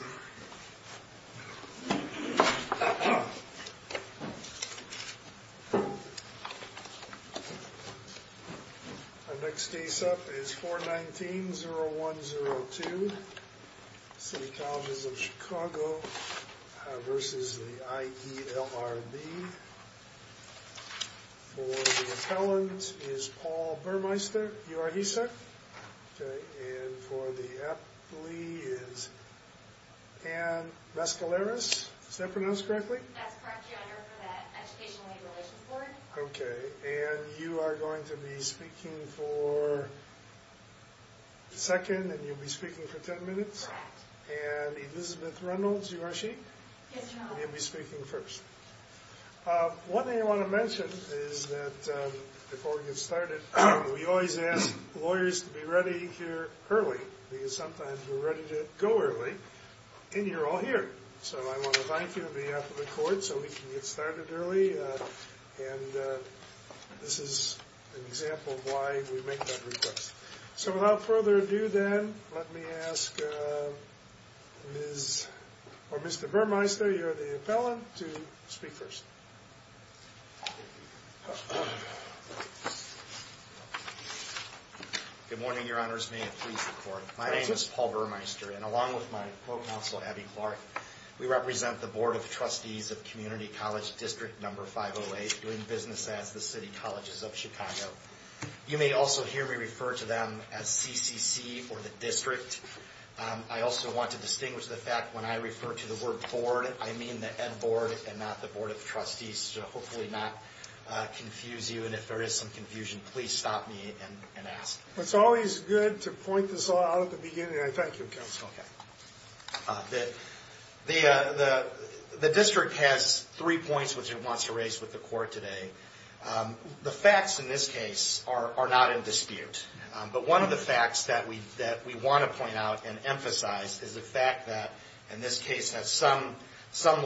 Our next case up is 419-0102 City Colleges of Chicago v. IEDLRB For the appellant is Paul Burmeister. You are he, sir? And for the athlete is Ann Mescaleras. Is that pronounced correctly? That's correct, Your Honor, for the Education Labor Relations Board. Okay, and you are going to be speaking for a second, and you'll be speaking for ten minutes? Correct. And Elizabeth Reynolds, you are she? Yes, Your Honor. You'll be speaking first. One thing I want to mention is that before we get started, we always ask lawyers to be ready here early. Because sometimes we're ready to go early, and you're all here. So I want to thank you on behalf of the court so we can get started early. And this is an example of why we make that request. So without further ado then, let me ask Mr. Burmeister, you're the appellant, to speak first. Good morning, Your Honors. May it please the court. My name is Paul Burmeister, and along with my co-counsel, Abby Clark, we represent the Board of Trustees of Community College District No. 508, doing business at the City Colleges of Chicago. You may also hear me refer to them as CCC or the district. I also want to distinguish the fact that when I refer to the word board, I mean the Ed Board and not the Board of Trustees, to hopefully not confuse you, and if there is some confusion, please stop me and ask. It's always good to point this out at the beginning. I thank you, counsel. Okay. The district has three points which it wants to raise with the court today. The facts in this case are not in dispute. But one of the facts that we want to point out and emphasize is the fact that, in this case, has some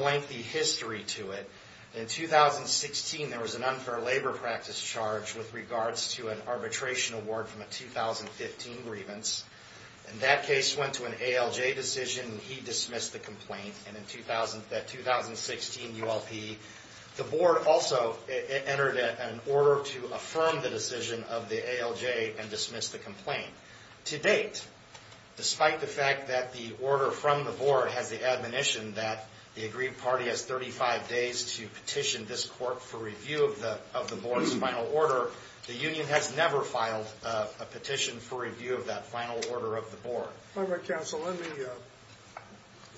lengthy history to it. In 2016, there was an unfair labor practice charge with regards to an arbitration award from a 2015 grievance. And that case went to an ALJ decision, and he dismissed the complaint. And in that 2016 ULP, the board also entered an order to affirm the decision of the ALJ and dismiss the complaint. To date, despite the fact that the order from the board has the admonition that the agreed party has 35 days to petition this court for review of the board's final order, the union has never filed a petition for review of that final order of the board. All right, counsel, let me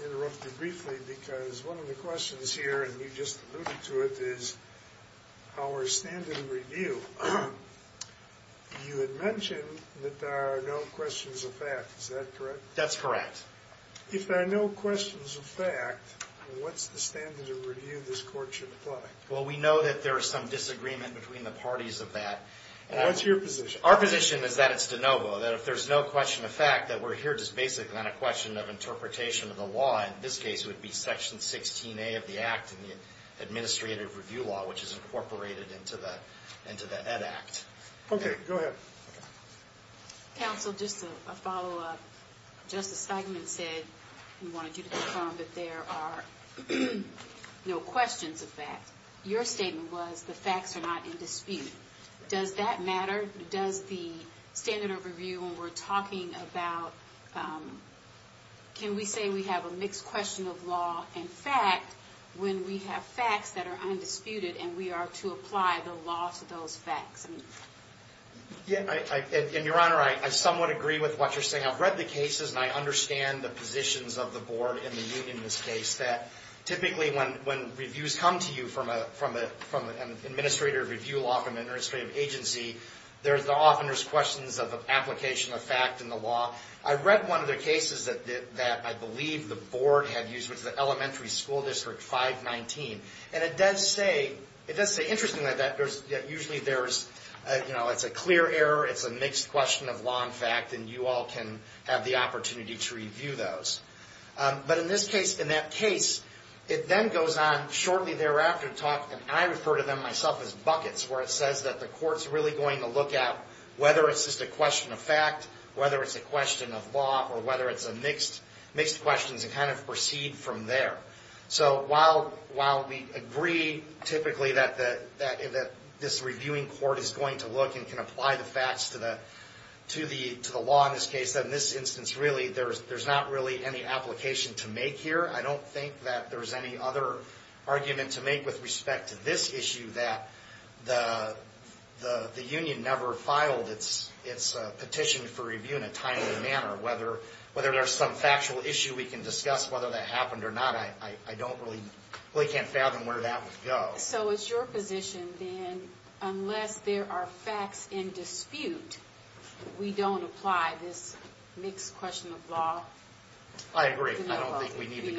interrupt you briefly because one of the questions here, and you just alluded to it, is our standard of review. You had mentioned that there are no questions of fact. Is that correct? That's correct. If there are no questions of fact, what's the standard of review this court should apply? Well, we know that there is some disagreement between the parties of that. What's your position? Our position is that it's de novo, that if there's no question of fact, that we're here just basically on a question of interpretation of the law. In this case, it would be Section 16A of the Act in the Administrative Review Law, which is incorporated into the Ed Act. Okay, go ahead. Counsel, just a follow-up. Justice Steigman said he wanted you to confirm that there are no questions of fact. Your statement was the facts are not in dispute. Does that matter? Does the standard of review, when we're talking about, can we say we have a mixed question of law and fact when we have facts that are undisputed and we are to apply the law to those facts? Your Honor, I somewhat agree with what you're saying. I've read the cases, and I understand the positions of the Board and the Union in this case. Typically, when reviews come to you from an Administrative Review Law from an administrative agency, often there's questions of application of fact in the law. I read one of the cases that I believe the Board had used, which was the Elementary School District 519. It does say, interestingly, that usually it's a clear error, it's a mixed question of law and fact, and you all can have the opportunity to review those. But in that case, it then goes on shortly thereafter to talk, and I refer to them myself as buckets, where it says that the Court's really going to look at whether it's just a question of fact, whether it's a question of law, or whether it's a mixed question to kind of proceed from there. So while we agree, typically, that this Reviewing Court is going to look and can apply the facts to the law in this case, in this instance, really, there's not really any application to make here. I don't think that there's any other argument to make with respect to this issue that the Union never filed its petition for review in a timely manner. Whether there's some factual issue we can discuss, whether that happened or not, I really can't fathom where that would go. So it's your position, then, unless there are facts in dispute, we don't apply this mixed question of law? I agree. I don't think we need to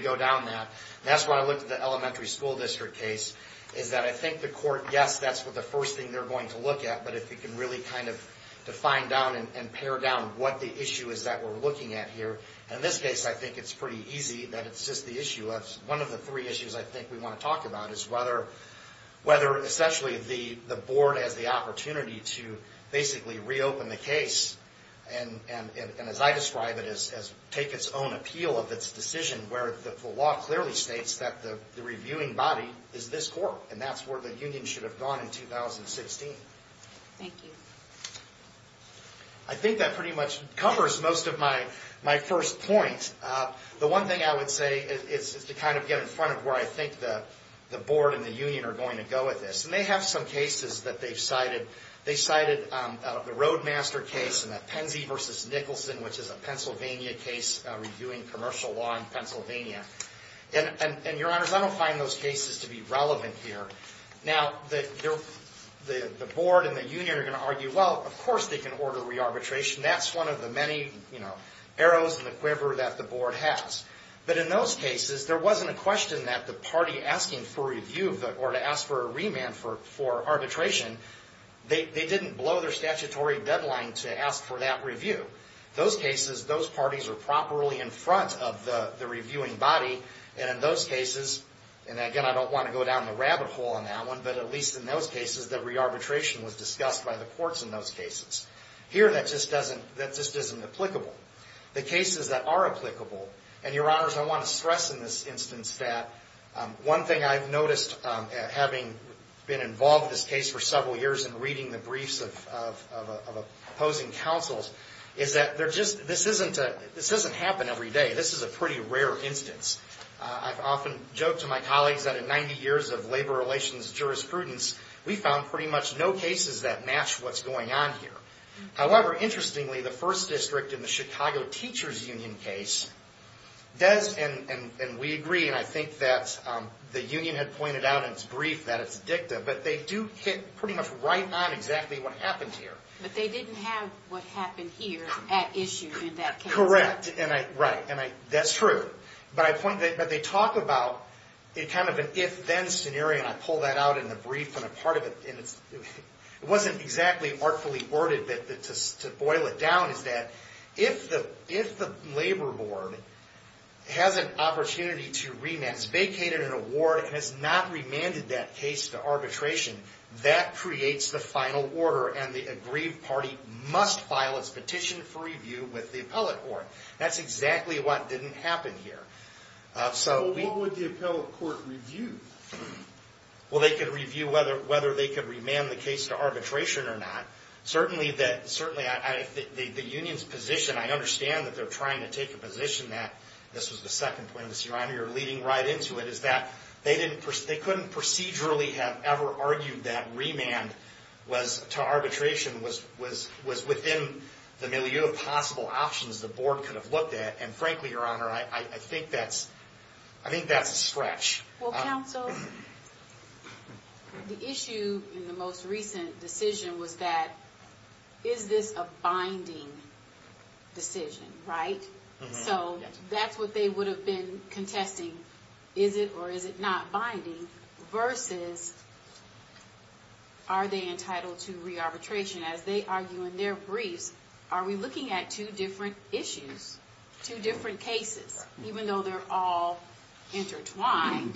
go down that. That's why I looked at the Elementary School District case, is that I think the Court, yes, that's the first thing they're going to look at, but if you can really kind of define down and pare down what the issue is that we're looking at here. In this case, I think it's pretty easy that it's just the issue. One of the three issues I think we want to talk about is whether, essentially, the Board has the opportunity to basically reopen the case and, as I describe it, take its own appeal of its decision, where the law clearly states that the reviewing body is this Court, and that's where the Union should have gone in 2016. Thank you. I think that pretty much covers most of my first point. The one thing I would say is to kind of get in front of where I think the Board and the Union are going to go with this. And they have some cases that they've cited. They cited the Roadmaster case and the Penzi versus Nicholson, which is a Pennsylvania case reviewing commercial law in Pennsylvania. And, Your Honors, I don't find those cases to be relevant here. Now, the Board and the Union are going to argue, well, of course they can order re-arbitration. That's one of the many, you know, arrows in the quiver that the Board has. But in those cases, there wasn't a question that the party asking for review or to ask for a remand for arbitration, they didn't blow their statutory deadline to ask for that review. Those cases, those parties are properly in front of the reviewing body. And in those cases, and again, I don't want to go down the rabbit hole on that one, but at least in those cases, the re-arbitration was discussed by the courts in those cases. Here, that just doesn't, that just isn't applicable. The cases that are applicable, and, Your Honors, I want to stress in this instance that one thing I've noticed, having been involved in this case for several years and reading the briefs of opposing counsels, is that they're just, this isn't, this doesn't happen every day. This is a pretty rare instance. I've often joked to my colleagues that in 90 years of labor relations jurisprudence, we found pretty much no cases that match what's going on here. However, interestingly, the first district in the Chicago Teachers Union case does, and we agree, and I think that the union had pointed out in its brief that it's dicta, but they do hit pretty much right on exactly what happened here. But they didn't have what happened here at issue in that case. Correct, and I, right, and I, that's true. But I point, but they talk about a kind of an if-then scenario, and I pull that out in the brief, and a part of it, and it wasn't exactly artfully worded, to boil it down, is that if the labor board has an opportunity to rematch, vacated an award, and has not remanded that case to arbitration, that creates the final order, and the agreed party must file its petition for review with the appellate court. That's exactly what didn't happen here. So what would the appellate court review? Well, they could review whether they could remand the case to arbitration or not. Certainly, the union's position, I understand that they're trying to take a position that, this was the second point, Your Honor, you're leading right into it, is that they couldn't procedurally have ever argued that remand to arbitration was within the milieu of possible options the board could have looked at, and frankly, Your Honor, I think that's a stretch. Well, counsel, the issue in the most recent decision was that, is this a binding decision, right? So that's what they would have been contesting, is it or is it not binding, versus are they entitled to re-arbitration. As they argue in their briefs, are we looking at two different issues, two different cases, even though they're all intertwined?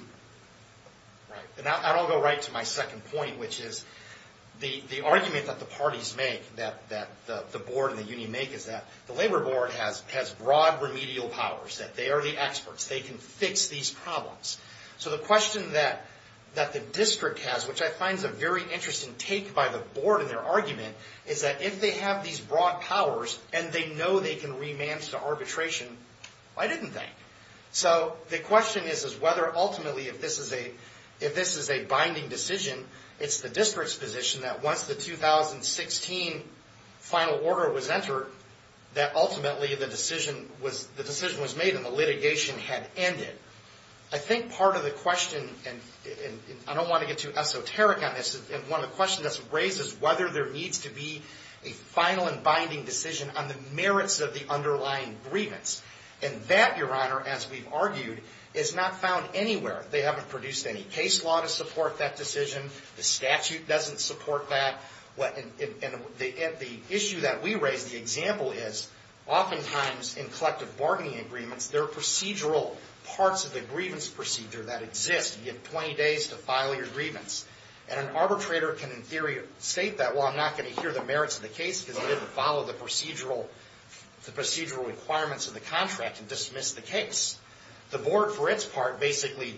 Right, and I'll go right to my second point, which is the argument that the parties make, that the board and the union make, is that the labor board has broad remedial powers, that they are the experts, they can fix these problems. So the question that the district has, which I find is a very interesting take by the board in their argument, is that if they have these broad powers and they know they can remand to arbitration, why didn't they? So the question is whether ultimately if this is a binding decision, it's the district's position that once the 2016 final order was entered, that ultimately the decision was made and the litigation had ended. I think part of the question, and I don't want to get too esoteric on this, and one of the questions that's raised is whether there needs to be a final and binding decision on the merits of the underlying grievance. And that, Your Honor, as we've argued, is not found anywhere. They haven't produced any case law to support that decision. The statute doesn't support that. And the issue that we raise, the example is, oftentimes in collective bargaining agreements, there are procedural parts of the grievance procedure that exist. You have 20 days to file your grievance. And an arbitrator can, in theory, state that, well, I'm not going to hear the merits of the case because I didn't follow the procedural requirements of the contract and dismiss the case. The board, for its part, basically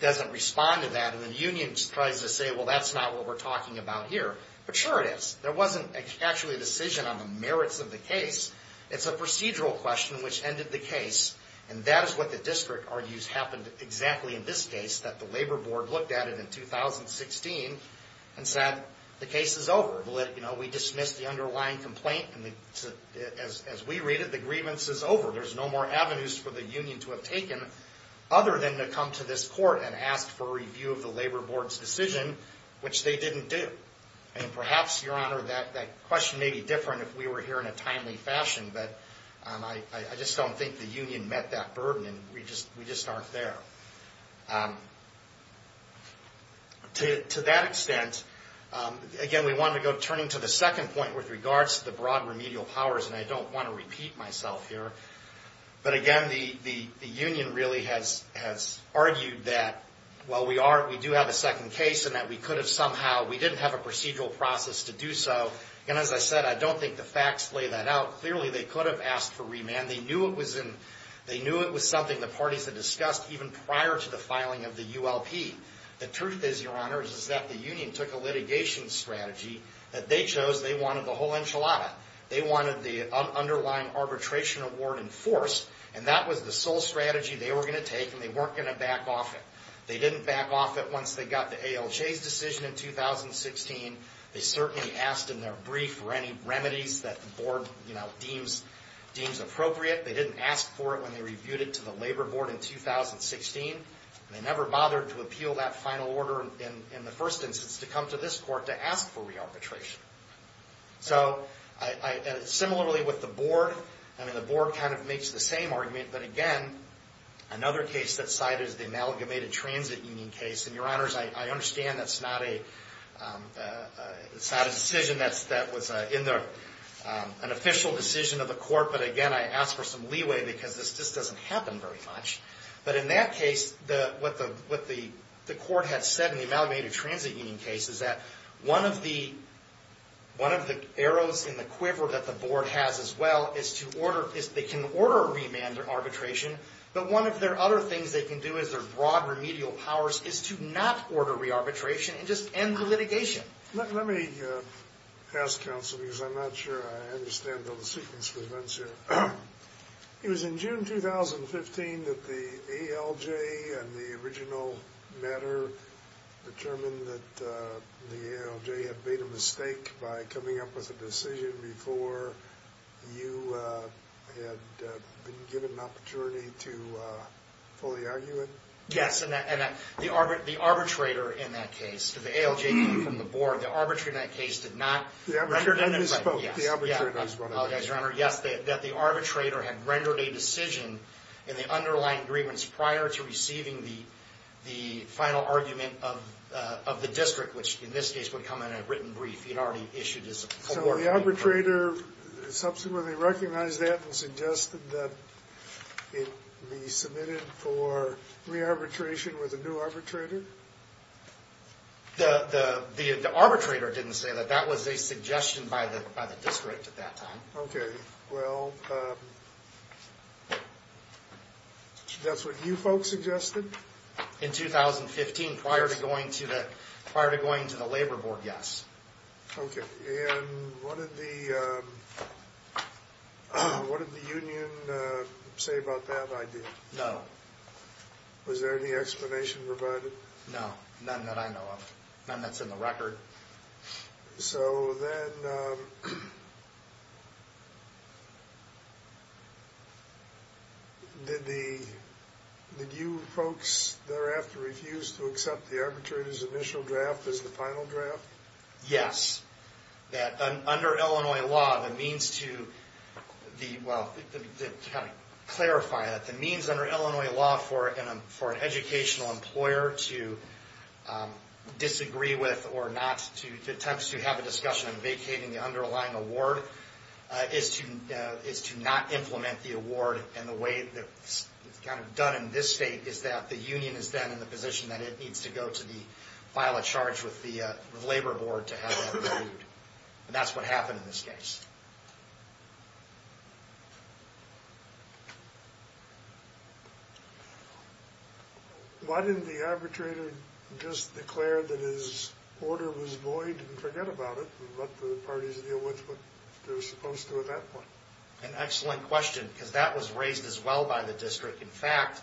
doesn't respond to that. And the union tries to say, well, that's not what we're talking about here. But sure it is. There wasn't actually a decision on the merits of the case. It's a procedural question which ended the case. And that is what the district argues happened exactly in this case, that the labor board looked at it in 2016 and said, the case is over. We dismissed the underlying complaint. As we read it, the grievance is over. There's no more avenues for the union to have taken other than to come to this court and ask for a review of the labor board's decision, which they didn't do. And perhaps, Your Honor, that question may be different if we were here in a timely fashion. But I just don't think the union met that burden. We just aren't there. To that extent, again, we want to go turning to the second point with regards to the broad remedial powers. And I don't want to repeat myself here. But again, the union really has argued that while we do have a second case and that we could have somehow, we didn't have a procedural process to do so. And as I said, I don't think the facts lay that out. Clearly, they could have asked for remand. They knew it was something the parties had discussed even prior to the filing of the ULP. The truth is, Your Honor, is that the union took a litigation strategy that they chose. They wanted the whole enchilada. They wanted the underlying arbitration award enforced. And that was the sole strategy they were going to take, and they weren't going to back off it. They didn't back off it once they got the ALJ's decision in 2016. They certainly asked in their brief for any remedies that the board, you know, deems appropriate. They didn't ask for it when they reviewed it to the labor board in 2016. They never bothered to appeal that final order in the first instance to come to this court to ask for re-arbitration. So similarly with the board, I mean, the board kind of makes the same argument. But again, another case that's cited is the amalgamated transit union case. And, Your Honors, I understand that's not a decision that was in an official decision of the court. But again, I ask for some leeway because this just doesn't happen very much. But in that case, what the court had said in the amalgamated transit union case is that one of the arrows in the quiver that the board has as well is they can order a remand arbitration, but one of their other things they can do is their broad remedial powers is to not order re-arbitration and just end the litigation. Let me ask counsel, because I'm not sure I understand the sequence of events here. It was in June 2015 that the ALJ and the original matter determined that the ALJ had made a mistake by coming up with a decision before you had been given an opportunity to fully argue it? Yes, and the arbitrator in that case, the ALJ came from the board. The arbitrator in that case did not... The arbitrator only spoke. Yes, I apologize, Your Honor. Yes, that the arbitrator had rendered a decision in the underlying agreements prior to receiving the final argument of the district, which in this case would come in a written brief. He had already issued his... So the arbitrator subsequently recognized that and suggested that it be submitted for re-arbitration with a new arbitrator? The arbitrator didn't say that. That was a suggestion by the district at that time. Okay, well, that's what you folks suggested? In 2015, prior to going to the labor board, yes. Okay, and what did the union say about that idea? No. Was there any explanation provided? No, none that I know of, none that's in the record. So then, did you folks thereafter refuse to accept the arbitrator's initial draft as the final draft? Yes. That under Illinois law, the means to the... Well, to kind of clarify that, the means under Illinois law for an educational employer to disagree with or not to... to attempt to have a discussion on vacating the underlying award is to not implement the award. And the way that it's kind of done in this state is that the union is then in the position that it needs to go to the... the labor board to have that reviewed. And that's what happened in this case. Why didn't the arbitrator just declare that his order was void and forget about it and let the parties deal with what they were supposed to at that point? An excellent question, because that was raised as well by the district. In fact,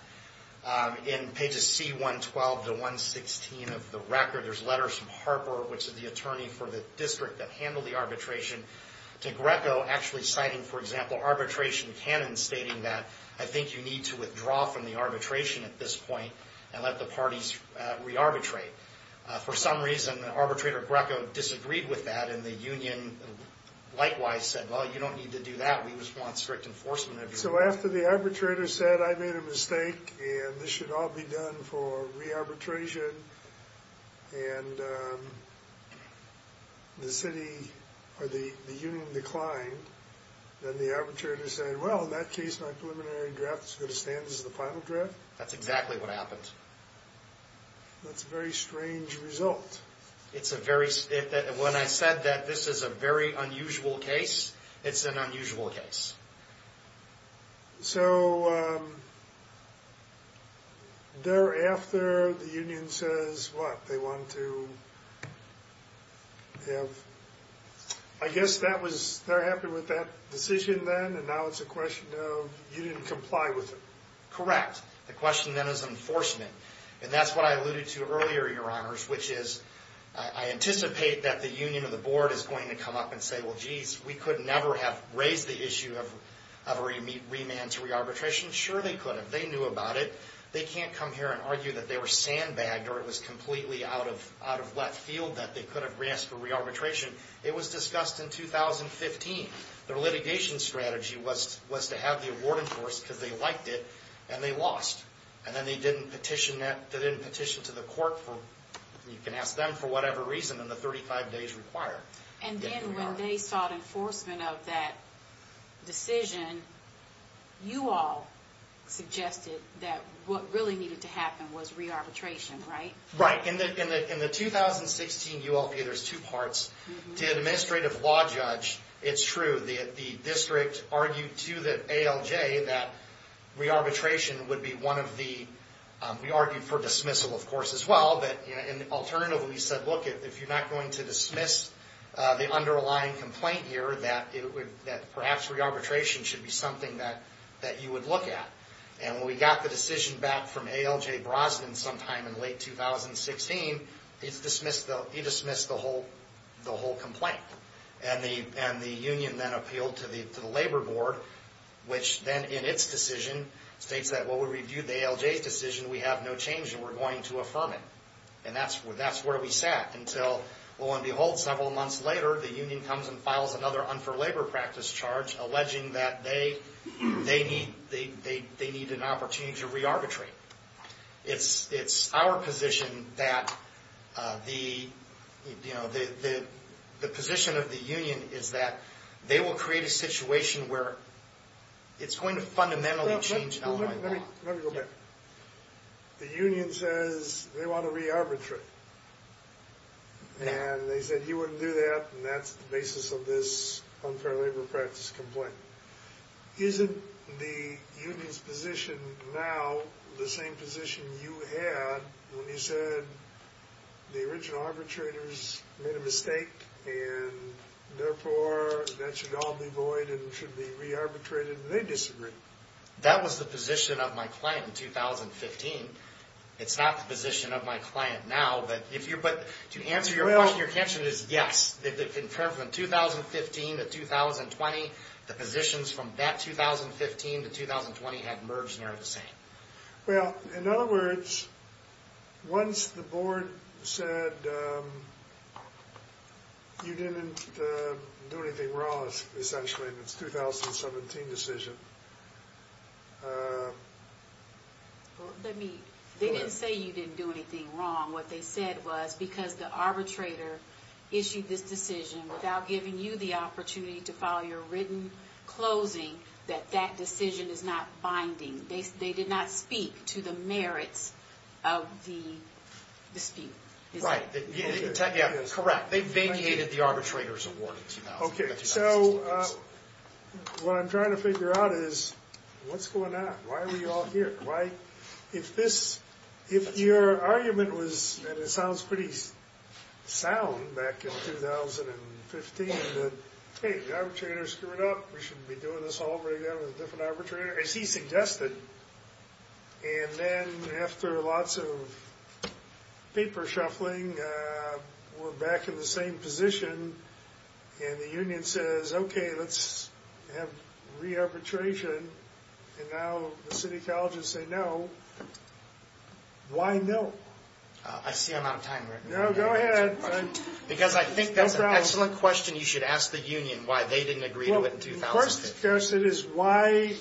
in pages C112 to 116 of the record, there's letters from Harper, which is the attorney for the district that handled the arbitration, to Greco actually citing, for example, arbitration canon stating that, I think you need to withdraw from the arbitration at this point and let the parties re-arbitrate. For some reason, Arbitrator Greco disagreed with that, and the union likewise said, well, you don't need to do that. We just want strict enforcement. So after the arbitrator said, I made a mistake, and this should all be done for re-arbitration, and the city or the union declined, then the arbitrator said, well, in that case, my preliminary draft is going to stand as the final draft? That's exactly what happened. That's a very strange result. When I said that this is a very unusual case, it's an unusual case. So thereafter, the union says what? They want to have, I guess that was, they're happy with that decision then, and now it's a question of you didn't comply with it. Correct. The question then is enforcement. And that's what I alluded to earlier, Your Honors, which is I anticipate that the union or the board is going to come up and say, well, geez, we could never have raised the issue of a remand to re-arbitration. Sure, they could have. They knew about it. They can't come here and argue that they were sandbagged or it was completely out of left field that they could have asked for re-arbitration. It was discussed in 2015. Their litigation strategy was to have the award enforced because they liked it, and they lost. And then they didn't petition to the court. You can ask them for whatever reason in the 35 days required. And then when they sought enforcement of that decision, you all suggested that what really needed to happen was re-arbitration, right? Right. In the 2016 ULP, there's two parts. To an administrative law judge, it's true. The district argued to the ALJ that re-arbitration would be one of the – we argued for dismissal, of course, as well. But alternatively, we said, look, if you're not going to dismiss the underlying complaint here, that perhaps re-arbitration should be something that you would look at. And when we got the decision back from ALJ Brosnan sometime in late 2016, he dismissed the whole complaint. And the union then appealed to the Labor Board, which then, in its decision, states that, well, we reviewed the ALJ's decision. We have no change, and we're going to affirm it. And that's where we sat until, lo and behold, several months later, the union comes and files another un-for-labor practice charge alleging that they need an opportunity to re-arbitrate. It's our position that the – you know, the position of the union is that they will create a situation where it's going to fundamentally change LA law. Let me go back. The union says they want to re-arbitrate. And they said you wouldn't do that, and that's the basis of this un-for-labor practice complaint. Isn't the union's position now the same position you had when you said the original arbitrators made a mistake, and therefore that should all be void and should be re-arbitrated, and they disagreed? That was the position of my client in 2015. It's not the position of my client now, but if you're – to answer your question, your answer is yes. In terms of 2015 to 2020, the positions from that 2015 to 2020 have merged and are the same. Well, in other words, once the board said you didn't do anything wrong, essentially, in its 2017 decision – Well, let me – they didn't say you didn't do anything wrong. What they said was because the arbitrator issued this decision without giving you the opportunity to follow your written closing, that that decision is not binding. They did not speak to the merits of the dispute. Right. Correct. They vacated the arbitrator's award in 2016. Okay. So what I'm trying to figure out is what's going on? Why are we all here? Why – if this – if your argument was, and it sounds pretty sound back in 2015, that, hey, the arbitrator screwed up, we shouldn't be doing this all over again with a different arbitrator, as he suggested, and then after lots of paper shuffling, we're back in the same position, and the union says, okay, let's have re-arbitration, and now the city colleges say no. Why no? I see I'm out of time, Rick. No, go ahead. Because I think that's an excellent question you should ask the union, why they didn't agree to it in 2015. Well, of course the question is, why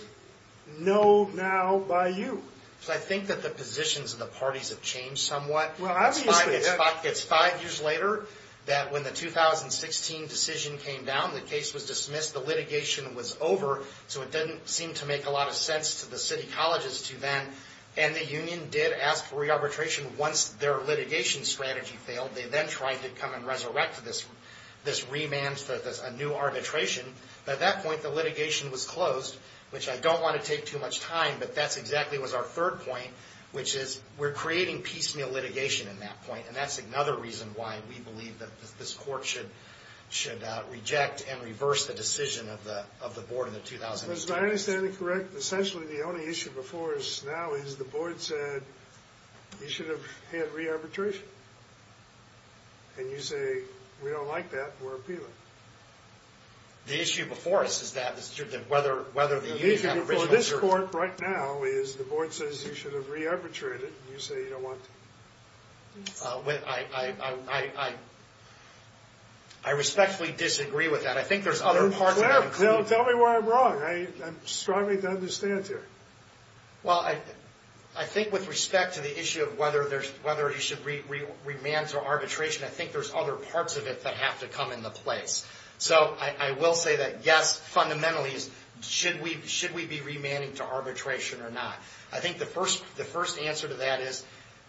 no now by you? Because I think that the positions of the parties have changed somewhat. Well, obviously. It's five years later that when the 2016 decision came down, the case was dismissed, the litigation was over, so it didn't seem to make a lot of sense to the city colleges to then, and the union did ask for re-arbitration once their litigation strategy failed. They then tried to come and resurrect this remand for a new arbitration, but at that point the litigation was closed, which I don't want to take too much time, but that's exactly what was our third point, which is we're creating piecemeal litigation in that point, and that's another reason why we believe that this court should reject and reverse the decision of the board in the 2016. Is my understanding correct? Essentially the only issue before us now is the board said you should have had re-arbitration, and you say we don't like that, we're appealing. The issue before us is whether the union had original jurisdiction. The issue before this court right now is the board says you should have re-arbitrated, and you say you don't want to. I respectfully disagree with that. I think there's other parts of that. Tell me where I'm wrong. I'm struggling to understand it here. Well, I think with respect to the issue of whether you should remand to arbitration, I think there's other parts of it that have to come into place. So I will say that yes, fundamentally, should we be remanding to arbitration or not? I think the first answer to that is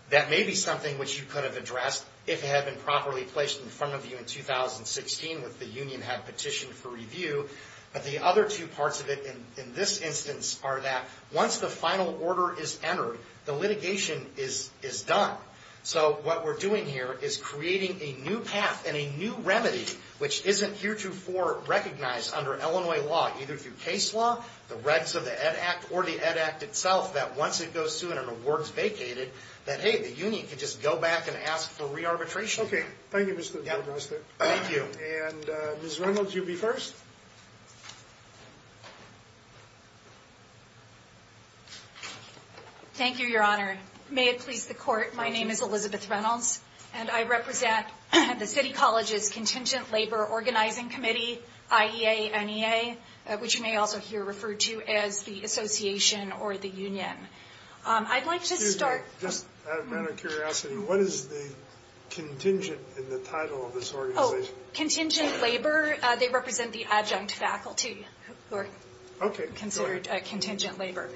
that may be something which you could have addressed if it had been properly placed in front of you in 2016 if the union had petitioned for review, but the other two parts of it in this instance are that once the final order is entered, the litigation is done. So what we're doing here is creating a new path and a new remedy, which isn't heretofore recognized under Illinois law, either through case law, the regs of the Ed Act, or the Ed Act itself, that once it goes through and an award is vacated, that, hey, the union can just go back and ask for re-arbitration. Okay. Thank you, Mr. Doudna. Thank you. And Ms. Reynolds, you'll be first. Thank you, Your Honor. May it please the Court, my name is Elizabeth Reynolds, and I represent the City College's Contingent Labor Organizing Committee, IEA, NEA, which you may also hear referred to as the association or the union. I'd like to start. Excuse me. Just out of matter of curiosity, what is the contingent in the title of this organization? Contingent Labor. They represent the adjunct faculty who are considered contingent labor.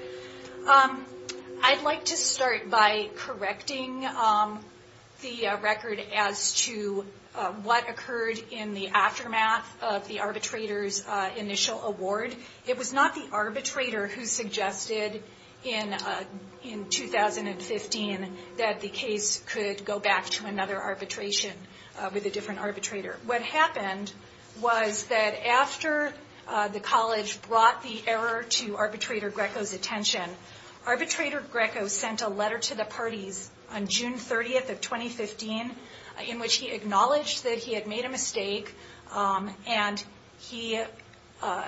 I'd like to start by correcting the record as to what occurred in the aftermath of the arbitrator's initial award. It was not the arbitrator who suggested in 2015 that the case could go back to another arbitration with a different arbitrator. What happened was that after the college brought the error to Arbitrator Greco's attention, Arbitrator Greco sent a letter to the parties on June 30th of 2015 in which he acknowledged that he had made a mistake and he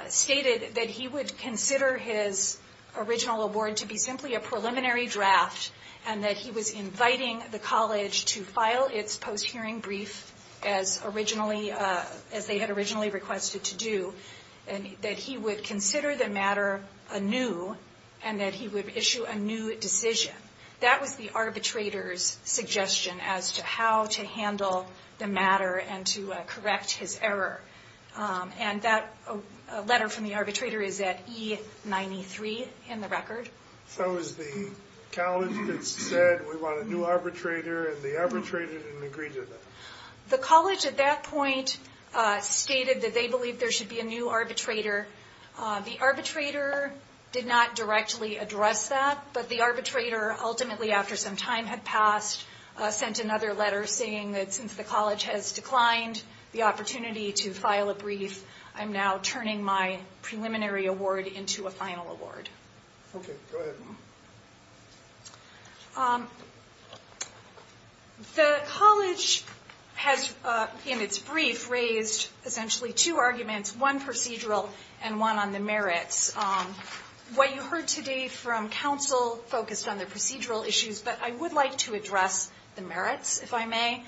stated that he would consider his original award to be simply a preliminary draft and that he was inviting the college to file its post-hearing brief as they had originally requested to do, and that he would consider the matter anew and that he would issue a new decision. That was the arbitrator's suggestion as to how to handle the matter and to correct his error. And that letter from the arbitrator is at E93 in the record. So it was the college that said, we want a new arbitrator, and the arbitrator didn't agree to that? The college at that point stated that they believed there should be a new arbitrator. The arbitrator did not directly address that, but the arbitrator ultimately, after some time had passed, sent another letter saying that since the college has declined the opportunity to file a brief, I'm now turning my preliminary award into a final award. Okay, go ahead. The college has, in its brief, raised essentially two arguments, one procedural and one on the merits. What you heard today from counsel focused on the procedural issues, but I would like to address the merits, if I may.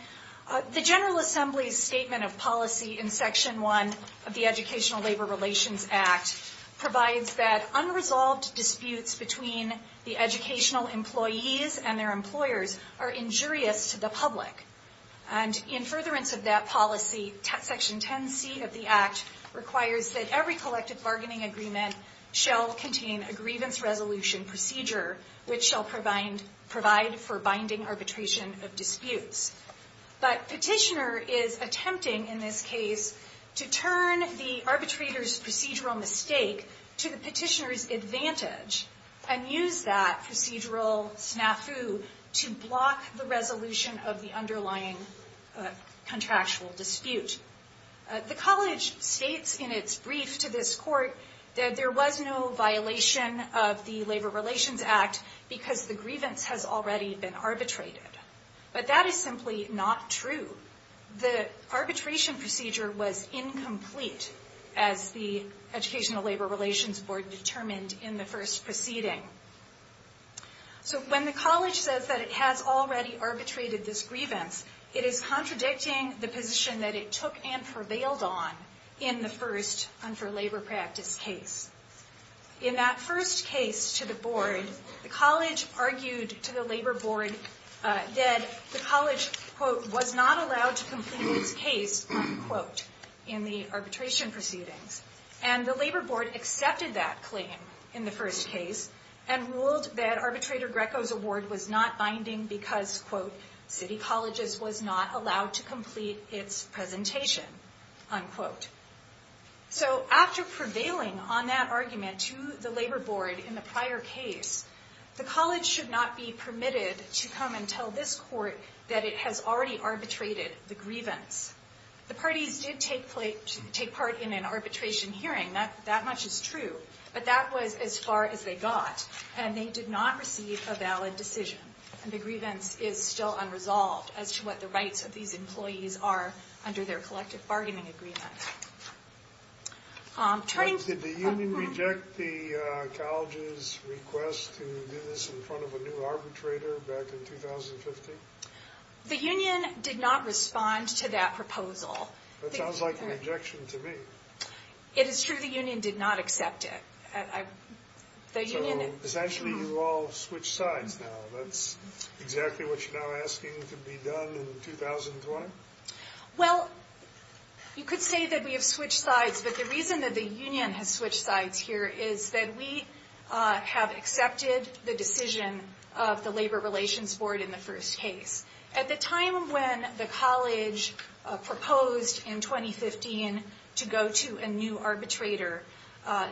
The General Assembly's statement of policy in Section 1 of the Educational Labor Relations Act provides that unresolved disputes between the educational employees and their employers are injurious to the public. And in furtherance of that policy, Section 10C of the Act requires that every collective bargaining agreement shall contain a grievance resolution procedure, which shall provide for binding arbitration of disputes. But Petitioner is attempting in this case to turn the arbitrator's procedural mistake to the petitioner's advantage and use that procedural snafu to block the resolution of the underlying contractual dispute. The college states in its brief to this court that there was no violation of the Labor Relations Act because the grievance has already been arbitrated. But that is simply not true. The arbitration procedure was incomplete, as the Educational Labor Relations Board determined in the first proceeding. So when the college says that it has already arbitrated this grievance, it is contradicting the position that it took and prevailed on in the first Unfor Labor Practice case. In that first case to the board, the college argued to the Labor Board that the college, quote, was not allowed to complete its case, unquote, in the arbitration proceedings. And the Labor Board accepted that claim in the first case and ruled that Arbitrator Greco's award was not binding because, quote, City Colleges was not allowed to complete its presentation, unquote. So after prevailing on that argument to the Labor Board in the prior case, the college should not be permitted to come and tell this court that it has already arbitrated the grievance. The parties did take part in an arbitration hearing. That much is true. But that was as far as they got, and they did not receive a valid decision. And the grievance is still unresolved as to what the rights of these employees are under their collective bargaining agreement. Did the union reject the college's request to do this in front of a new arbitrator back in 2015? The union did not respond to that proposal. That sounds like a rejection to me. It is true the union did not accept it. So essentially you all switched sides now. That's exactly what you're now asking to be done in 2020? Well, you could say that we have switched sides, but the reason that the union has switched sides here is that we have accepted the decision of the Labor Relations Board in the first case. At the time when the college proposed in 2015 to go to a new arbitrator,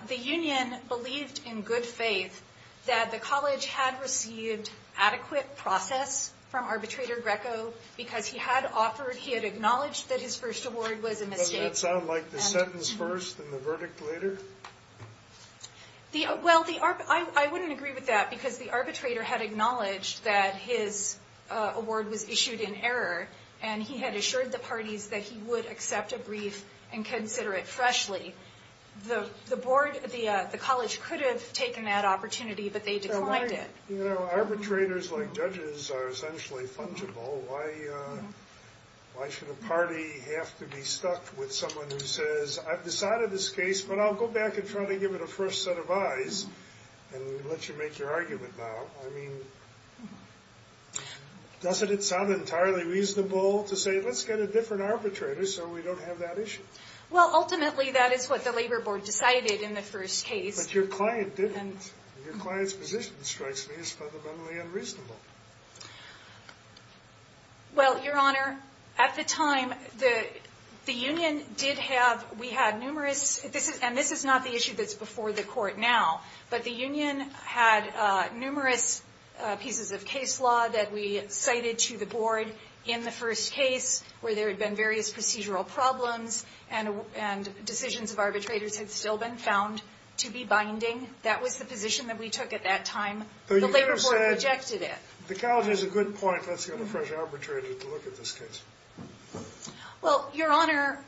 the union believed in good faith that the college had received adequate process from Arbitrator Greco because he had acknowledged that his first award was a mistake. Doesn't that sound like the sentence first and the verdict later? Well, I wouldn't agree with that because the arbitrator had acknowledged that his award was issued in error, and he had assured the parties that he would accept a brief and consider it freshly. The college could have taken that opportunity, but they declined it. Arbitrators like judges are essentially fungible. Why should a party have to be stuck with someone who says, I've decided this case, but I'll go back and try to give it a first set of eyes and let you make your argument now. I mean, doesn't it sound entirely reasonable to say let's get a different arbitrator so we don't have that issue? Well, ultimately, that is what the Labor Board decided in the first case. But your client didn't. Your client's position strikes me as fundamentally unreasonable. Well, Your Honor, at the time, the union did have, we had numerous, and this is not the issue that's before the court now, but the union had numerous pieces of case law that we cited to the board in the first case where there had been various procedural problems and decisions of arbitrators had still been found to be binding. That was the position that we took at that time. The Labor Board rejected it. The college has a good point. Let's get a fresh arbitrator to look at this case. Well, Your Honor,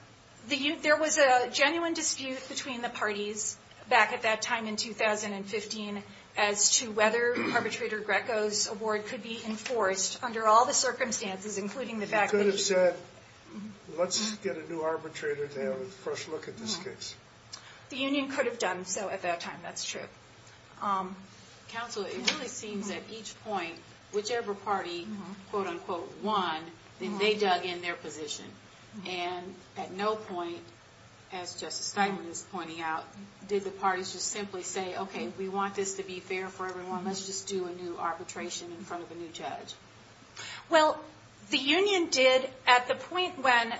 there was a genuine dispute between the parties back at that time in 2015 as to whether Arbitrator Greco's award could be enforced under all the circumstances, including the fact that he could have said let's get a new arbitrator to have a fresh look at this case. The union could have done so at that time. That's true. Counsel, it really seems at each point, whichever party, quote, unquote, won, then they dug in their position. And at no point, as Justice Steinman is pointing out, did the parties just simply say, okay, we want this to be fair for everyone. Let's just do a new arbitration in front of a new judge. Well, the union did at the point when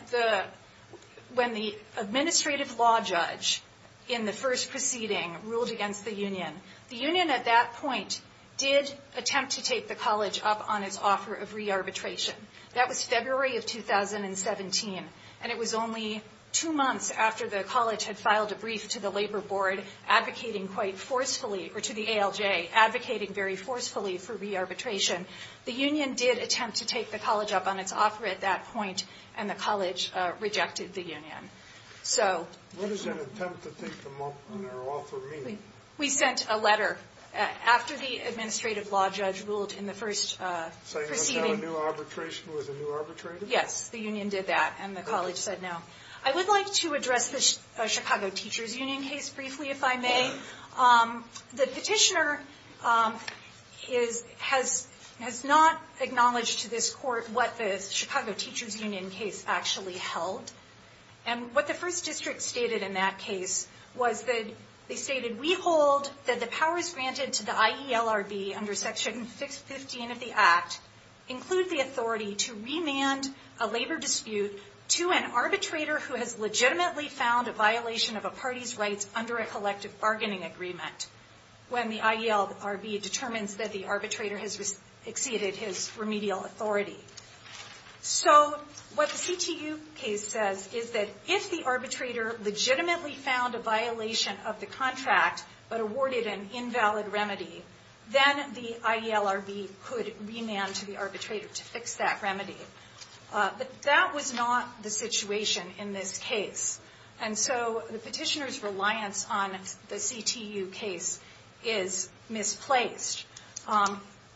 the administrative law judge in the first proceeding ruled against the union. The union at that point did attempt to take the college up on its offer of re-arbitration. That was February of 2017, and it was only two months after the college had filed a brief to the Labor Board advocating quite forcefully, or to the ALJ advocating very forcefully for re-arbitration. The union did attempt to take the college up on its offer at that point, and the college rejected the union. What does an attempt to take them up on their offer mean? We sent a letter after the administrative law judge ruled in the first proceeding. So you said a new arbitration was a new arbitrator? Yes, the union did that, and the college said no. I would like to address the Chicago Teachers Union case briefly, if I may. The petitioner has not acknowledged to this court what the Chicago Teachers Union case actually held. And what the first district stated in that case was that they stated, we hold that the powers granted to the IELRB under Section 15 of the Act include the authority to remand a labor dispute to an arbitrator who has legitimately found a violation of a party's rights under a collective bargaining agreement when the IELRB determines that the arbitrator has exceeded his remedial authority. So what the CTU case says is that if the arbitrator legitimately found a violation of the contract but awarded an invalid remedy, then the IELRB could remand to the arbitrator to fix that remedy. But that was not the situation in this case. And so the petitioner's reliance on the CTU case is misplaced.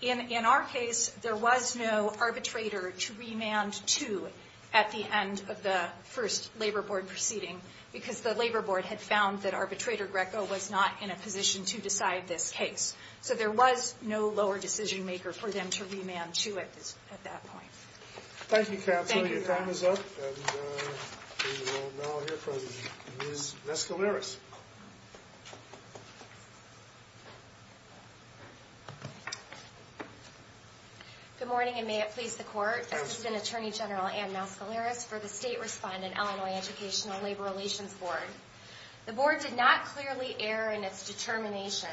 In our case, there was no arbitrator to remand to at the end of the first labor board proceeding because the labor board had found that arbitrator Greco was not in a position to decide this case. So there was no lower decision maker for them to remand to at that point. Thank you, Counselor. Your time is up. And we will now hear from Ms. Mescaleras. Good morning, and may it please the Court. Assistant Attorney General Ann Mescaleras for the State Respondent Illinois Educational Labor Relations Board. The board did not clearly err in its determination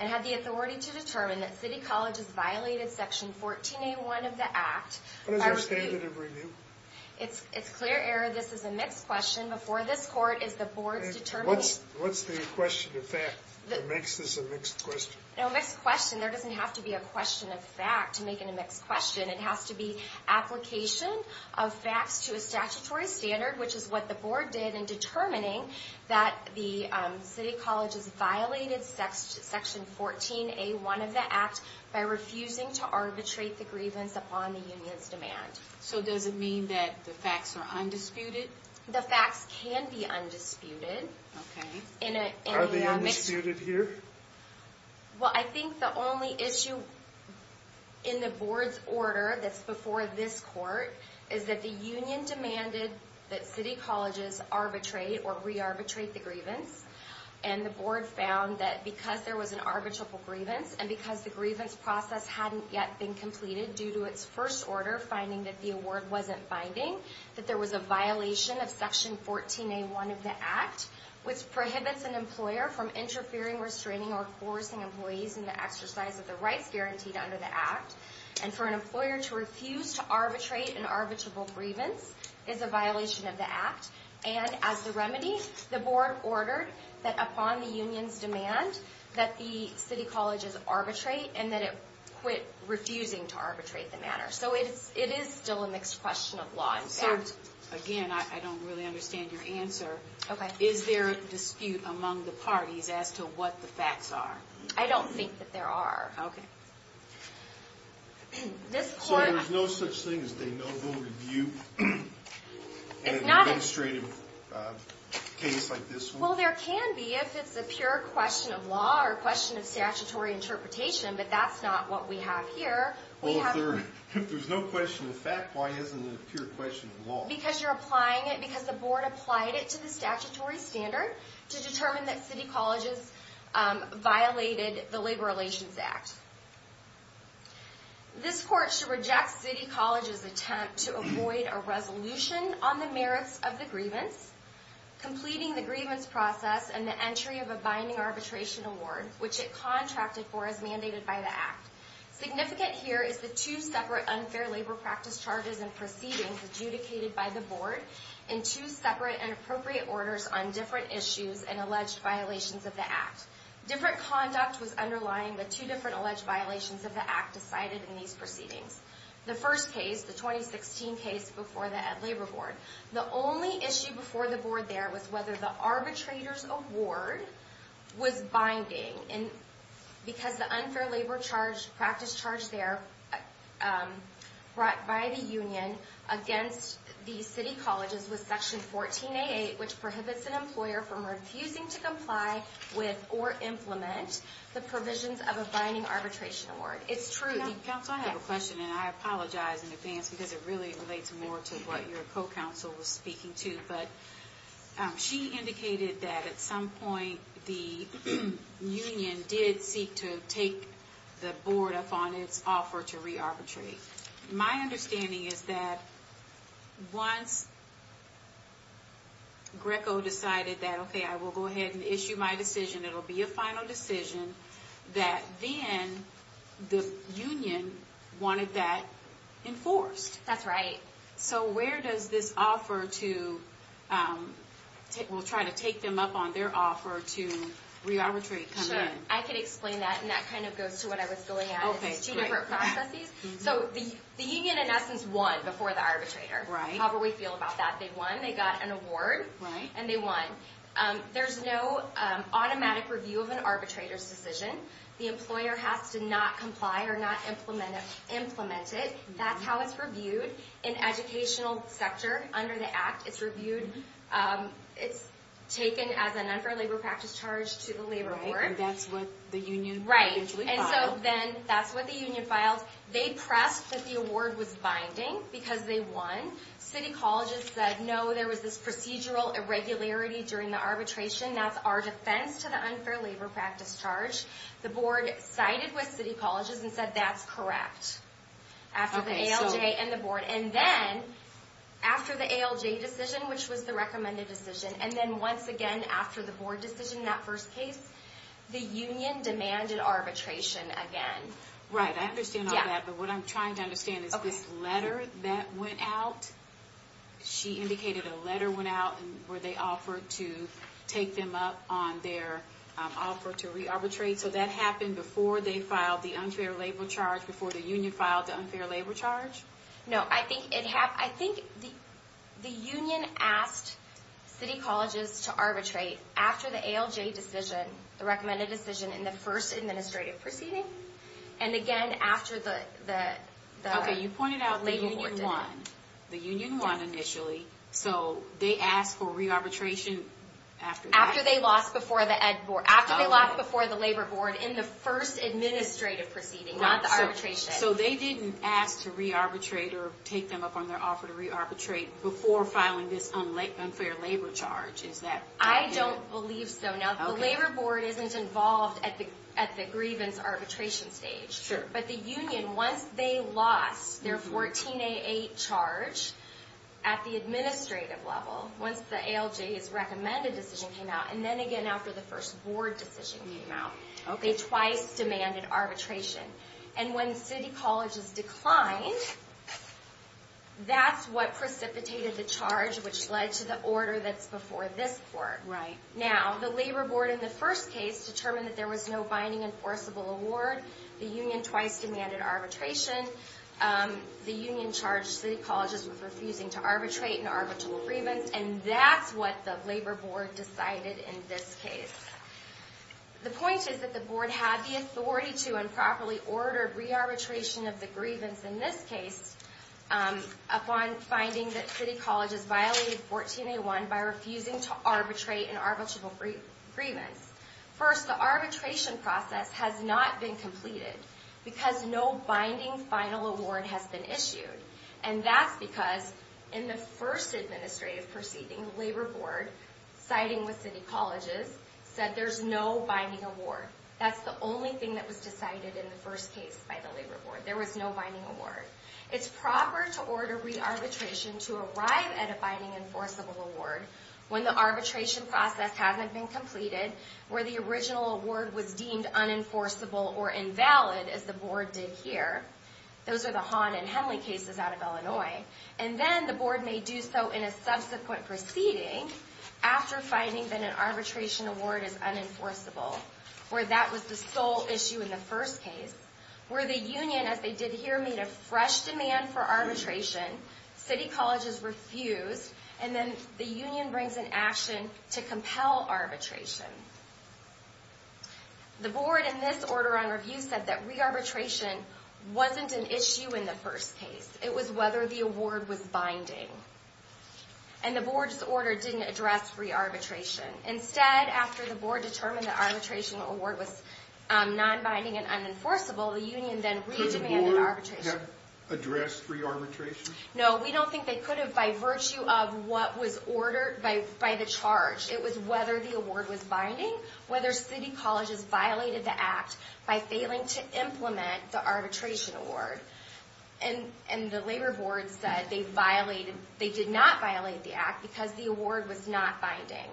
and had the authority to determine that City Colleges violated Section 14A1 of the Act. What is our standard of review? It's clear error. This is a mixed question. Before this Court, is the board's determination. What's the question of fact that makes this a mixed question? No, mixed question. There doesn't have to be a question of fact to make it a mixed question. It has to be application of facts to a statutory standard, which is what the board did in determining that the City Colleges violated Section 14A1 of the Act by refusing to arbitrate the grievance upon the union's demand. So does it mean that the facts are undisputed? The facts can be undisputed. Are they undisputed here? Well, I think the only issue in the board's order that's before this Court is that the union demanded that City Colleges arbitrate or re-arbitrate the grievance. And the board found that because there was an arbitrable grievance, and because the grievance process hadn't yet been completed due to its first order finding that the award wasn't binding, that there was a violation of Section 14A1 of the Act, which prohibits an employer from interfering, restraining, or coercing employees in the exercise of the rights guaranteed under the Act. And for an employer to refuse to arbitrate an arbitrable grievance is a violation of the Act. And as the remedy, the board ordered that upon the union's demand that the City Colleges arbitrate and that it quit refusing to arbitrate the matter. So it is still a mixed question of law and fact. So, again, I don't really understand your answer. Is there a dispute among the parties as to what the facts are? I don't think that there are. Okay. So there's no such thing as a notable review in an administrative case like this one? Well, there can be if it's a pure question of law or a question of statutory interpretation, but that's not what we have here. Well, if there's no question of fact, why isn't it a pure question of law? Because you're applying it because the board applied it to the statutory standard to determine that City Colleges violated the Labor Relations Act. This court should reject City Colleges' attempt to avoid a resolution on the merits of the grievance, completing the grievance process, and the entry of a binding arbitration award, which it contracted for as mandated by the Act. Significant here is the two separate unfair labor practice charges and proceedings adjudicated by the board in two separate and appropriate orders on different issues and alleged violations of the Act. Different conduct was underlying the two different alleged violations of the Act decided in these proceedings. The first case, the 2016 case before the Ed Labor Board, the only issue before the board there was whether the arbitrator's award was binding. Because the unfair labor practice charge there brought by the union against the City Colleges was Section 14A8, which prohibits an employer from refusing to comply with or implement the provisions of a binding arbitration award. It's true. Counsel, I have a question, and I apologize in advance because it really relates more to what your co-counsel was speaking to. She indicated that at some point the union did seek to take the board upon its offer to re-arbitrate. My understanding is that once Greco decided that, okay, I will go ahead and issue my decision, it will be a final decision, that then the union wanted that enforced. That's right. So where does this offer to take them up on their offer to re-arbitrate come in? I can explain that, and that kind of goes to what I was going at. It's two different processes. The union in essence won before the arbitrator, however we feel about that. They won, they got an award, and they won. There's no automatic review of an arbitrator's decision. The employer has to not comply or not implement it. That's how it's reviewed in educational sector under the Act. It's taken as an unfair labor practice charge to the labor board. Right, and that's what the union eventually filed. Right, and so then that's what the union filed. They pressed that the award was binding because they won. City colleges said, no, there was this procedural irregularity during the arbitration. That's our defense to the unfair labor practice charge. The board sided with city colleges and said that's correct after the ALJ and the board. And then after the ALJ decision, which was the recommended decision, and then once again after the board decision in that first case, the union demanded arbitration again. Right, I understand all that, but what I'm trying to understand is this letter that went out. She indicated a letter went out where they offered to take them up on their offer to re-arbitrate. So that happened before they filed the unfair labor charge, before the union filed the unfair labor charge? No, I think the union asked city colleges to arbitrate after the ALJ decision, the recommended decision in the first administrative proceeding, and again after the labor board did it. Okay, you pointed out the union won initially, so they asked for re-arbitration after that? After they lost before the labor board in the first administrative proceeding, not the arbitration. So they didn't ask to re-arbitrate or take them up on their offer to re-arbitrate before filing this unfair labor charge, is that correct? I don't believe so. Now, the labor board isn't involved at the grievance arbitration stage, but the union, once they lost their 14A8 charge at the administrative level, once the ALJ's recommended decision came out, and then again after the first board decision came out, they twice demanded arbitration. And when city colleges declined, that's what precipitated the charge, which led to the order that's before this court. Now, the labor board in the first case determined that there was no binding enforceable award. The union twice demanded arbitration. The union charged city colleges with refusing to arbitrate an arbitral grievance, and that's what the labor board decided in this case. The point is that the board had the authority to improperly order re-arbitration of the grievance in this case upon finding that city colleges violated 14A1 by refusing to arbitrate an arbitral grievance. First, the arbitration process has not been completed because no binding final award has been issued. And that's because in the first administrative proceeding, the labor board, siding with city colleges, said there's no binding award. That's the only thing that was decided in the first case by the labor board. There was no binding award. It's proper to order re-arbitration to arrive at a binding enforceable award when the arbitration process hasn't been completed, where the original award was deemed unenforceable or invalid, as the board did here. Those are the Hahn and Henley cases out of Illinois. And then the board may do so in a subsequent proceeding, after finding that an arbitration award is unenforceable, where that was the sole issue in the first case, where the union, as they did here, made a fresh demand for arbitration, city colleges refused, and then the union brings an action to compel arbitration. The board, in this order on review, said that re-arbitration wasn't an issue in the first case. It was whether the award was binding. And the board's order didn't address re-arbitration. Instead, after the board determined the arbitration award was non-binding and unenforceable, the union then re-demanded arbitration. Could the board have addressed re-arbitration? No, we don't think they could have, by virtue of what was ordered by the charge. It was whether the award was binding, whether city colleges violated the act by failing to implement the arbitration award. And the labor board said they did not violate the act because the award was not binding.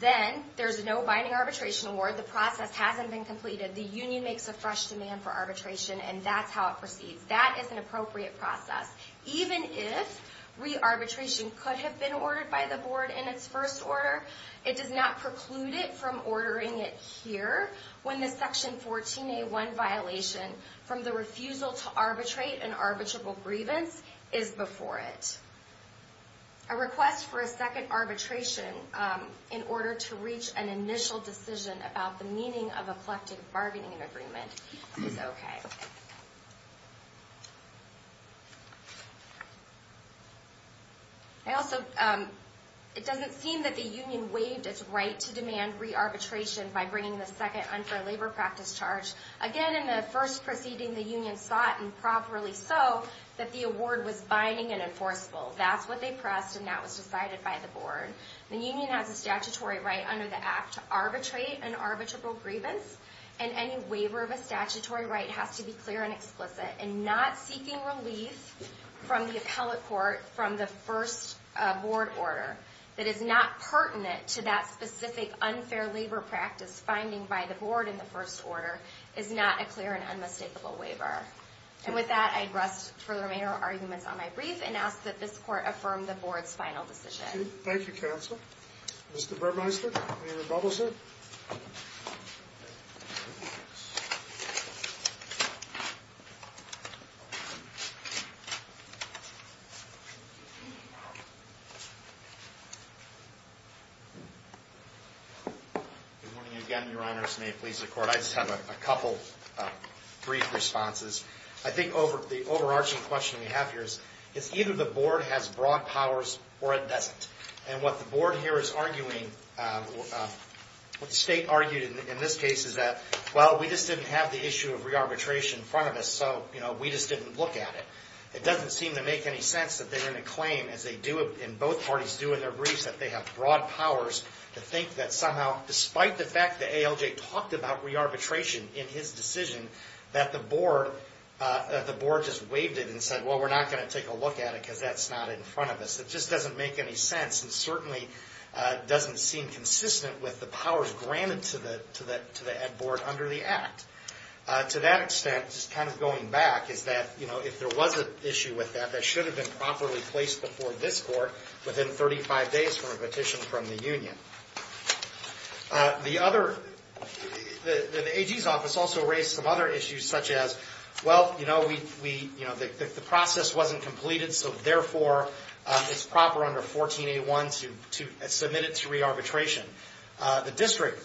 Then, there's no binding arbitration award, the process hasn't been completed, the union makes a fresh demand for arbitration, and that's how it proceeds. That is an appropriate process. Even if re-arbitration could have been ordered by the board in its first order, it does not preclude it from ordering it here, when the Section 14A1 violation from the refusal to arbitrate an arbitrable grievance is before it. A request for a second arbitration in order to reach an initial decision about the meaning of a collective bargaining agreement is okay. It doesn't seem that the union waived its right to demand re-arbitration by bringing the second unfair labor practice charge. Again, in the first proceeding, the union sought, and properly so, that the award was binding and enforceable. That's what they pressed, and that was decided by the board. The union has a statutory right under the act to arbitrate an arbitrable grievance, and any waiver of a statutory right has to be clear and explicit. And not seeking relief from the appellate court from the first board order that is not pertinent to that specific unfair labor practice finding by the board in the first order is not a clear and unmistakable waiver. And with that, I'd rest for the remainder of our arguments on my brief and ask that this court affirm the board's final decision. Thank you, Counsel. Mr. Brubmeister? Mr. Brubmeister? Good morning again, Your Honors. May it please the Court. I just have a couple brief responses. I think the overarching question we have here is it's either the board has broad powers or it doesn't. And what the board here is arguing, what the state argued in this case, is that, well, we just didn't have the issue of re-arbitration in front of us, so we just didn't look at it. It doesn't seem to make any sense that they're going to claim, as they do and both parties do in their briefs, that they have broad powers to think that somehow, despite the fact that ALJ talked about re-arbitration in his decision, that the board just waived it and said, well, we're not going to take a look at it because that's not in front of us. It just doesn't make any sense and certainly doesn't seem consistent with the powers granted to the board under the Act. To that extent, just kind of going back, is that, you know, if there was an issue with that, that should have been properly placed before this Court within 35 days from a petition from the union. The other, the AG's office also raised some other issues such as, well, you know, we, you know, the process wasn't completed, so therefore it's proper under 14A1 to submit it to re-arbitration. The district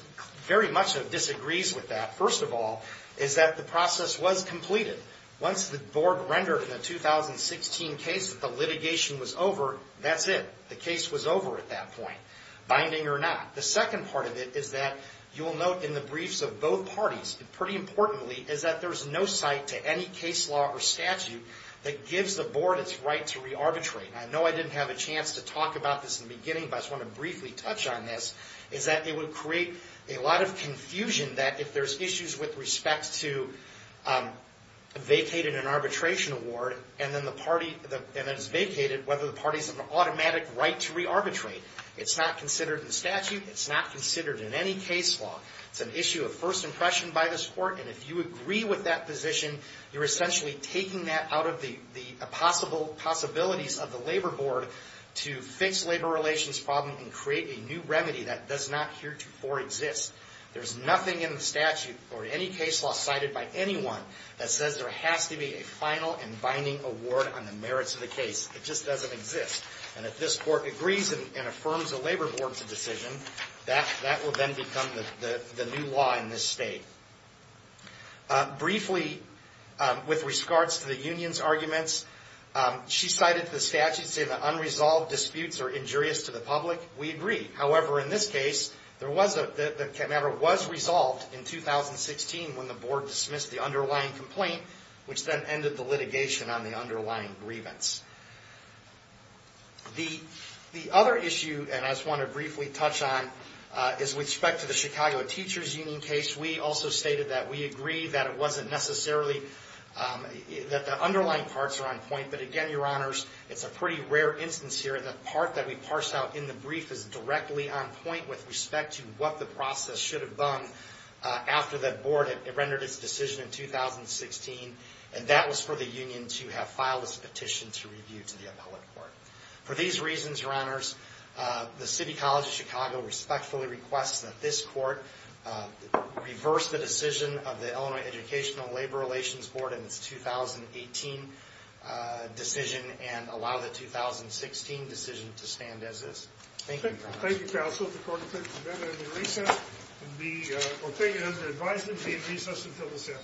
very much disagrees with that, first of all, is that the process was completed. Once the board rendered in the 2016 case that the litigation was over, that's it. The case was over at that point, binding or not. The second part of it is that you will note in the briefs of both parties, pretty importantly, is that there's no site to any case law or statute that gives the board its right to re-arbitrate. Now, I know I didn't have a chance to talk about this in the beginning, but I just want to briefly touch on this, is that it would create a lot of confusion that if there's issues with respect to vacated and arbitration award and then the party, and it's vacated, whether the party has an automatic right to re-arbitrate. It's not considered in statute. It's not considered in any case law. It's an issue of first impression by this Court, and if you agree with that position, you're essentially taking that out of the possibilities of the Labor Board to fix labor relations problems and create a new remedy that does not heretofore exist. There's nothing in the statute or any case law cited by anyone that says there has to be a final and binding award on the merits of the case. It just doesn't exist. And if this Court agrees and affirms the Labor Board's decision, that will then become the new law in this state. Briefly, with regards to the union's arguments, she cited the statute saying that unresolved disputes are injurious to the public. We agree. However, in this case, the matter was resolved in 2016 when the Board dismissed the underlying complaint, which then ended the litigation on the underlying grievance. The other issue, and I just want to briefly touch on, is with respect to the Chicago Teachers Union case, which we also stated that we agree that it wasn't necessarily that the underlying parts are on point. But again, Your Honors, it's a pretty rare instance here. The part that we parsed out in the brief is directly on point with respect to what the process should have done after the Board had rendered its decision in 2016, and that was for the union to have filed its petition to review to the appellate court. For these reasons, Your Honors, the City College of Chicago respectfully requests that this court reverse the decision of the Illinois Educational Labor Relations Board in its 2018 decision and allow the 2016 decision to stand as is. Thank you, Your Honors. Thank you, Counsel. The court is adjourned until recess. The opinion of the advisers will be in recess until the Senate.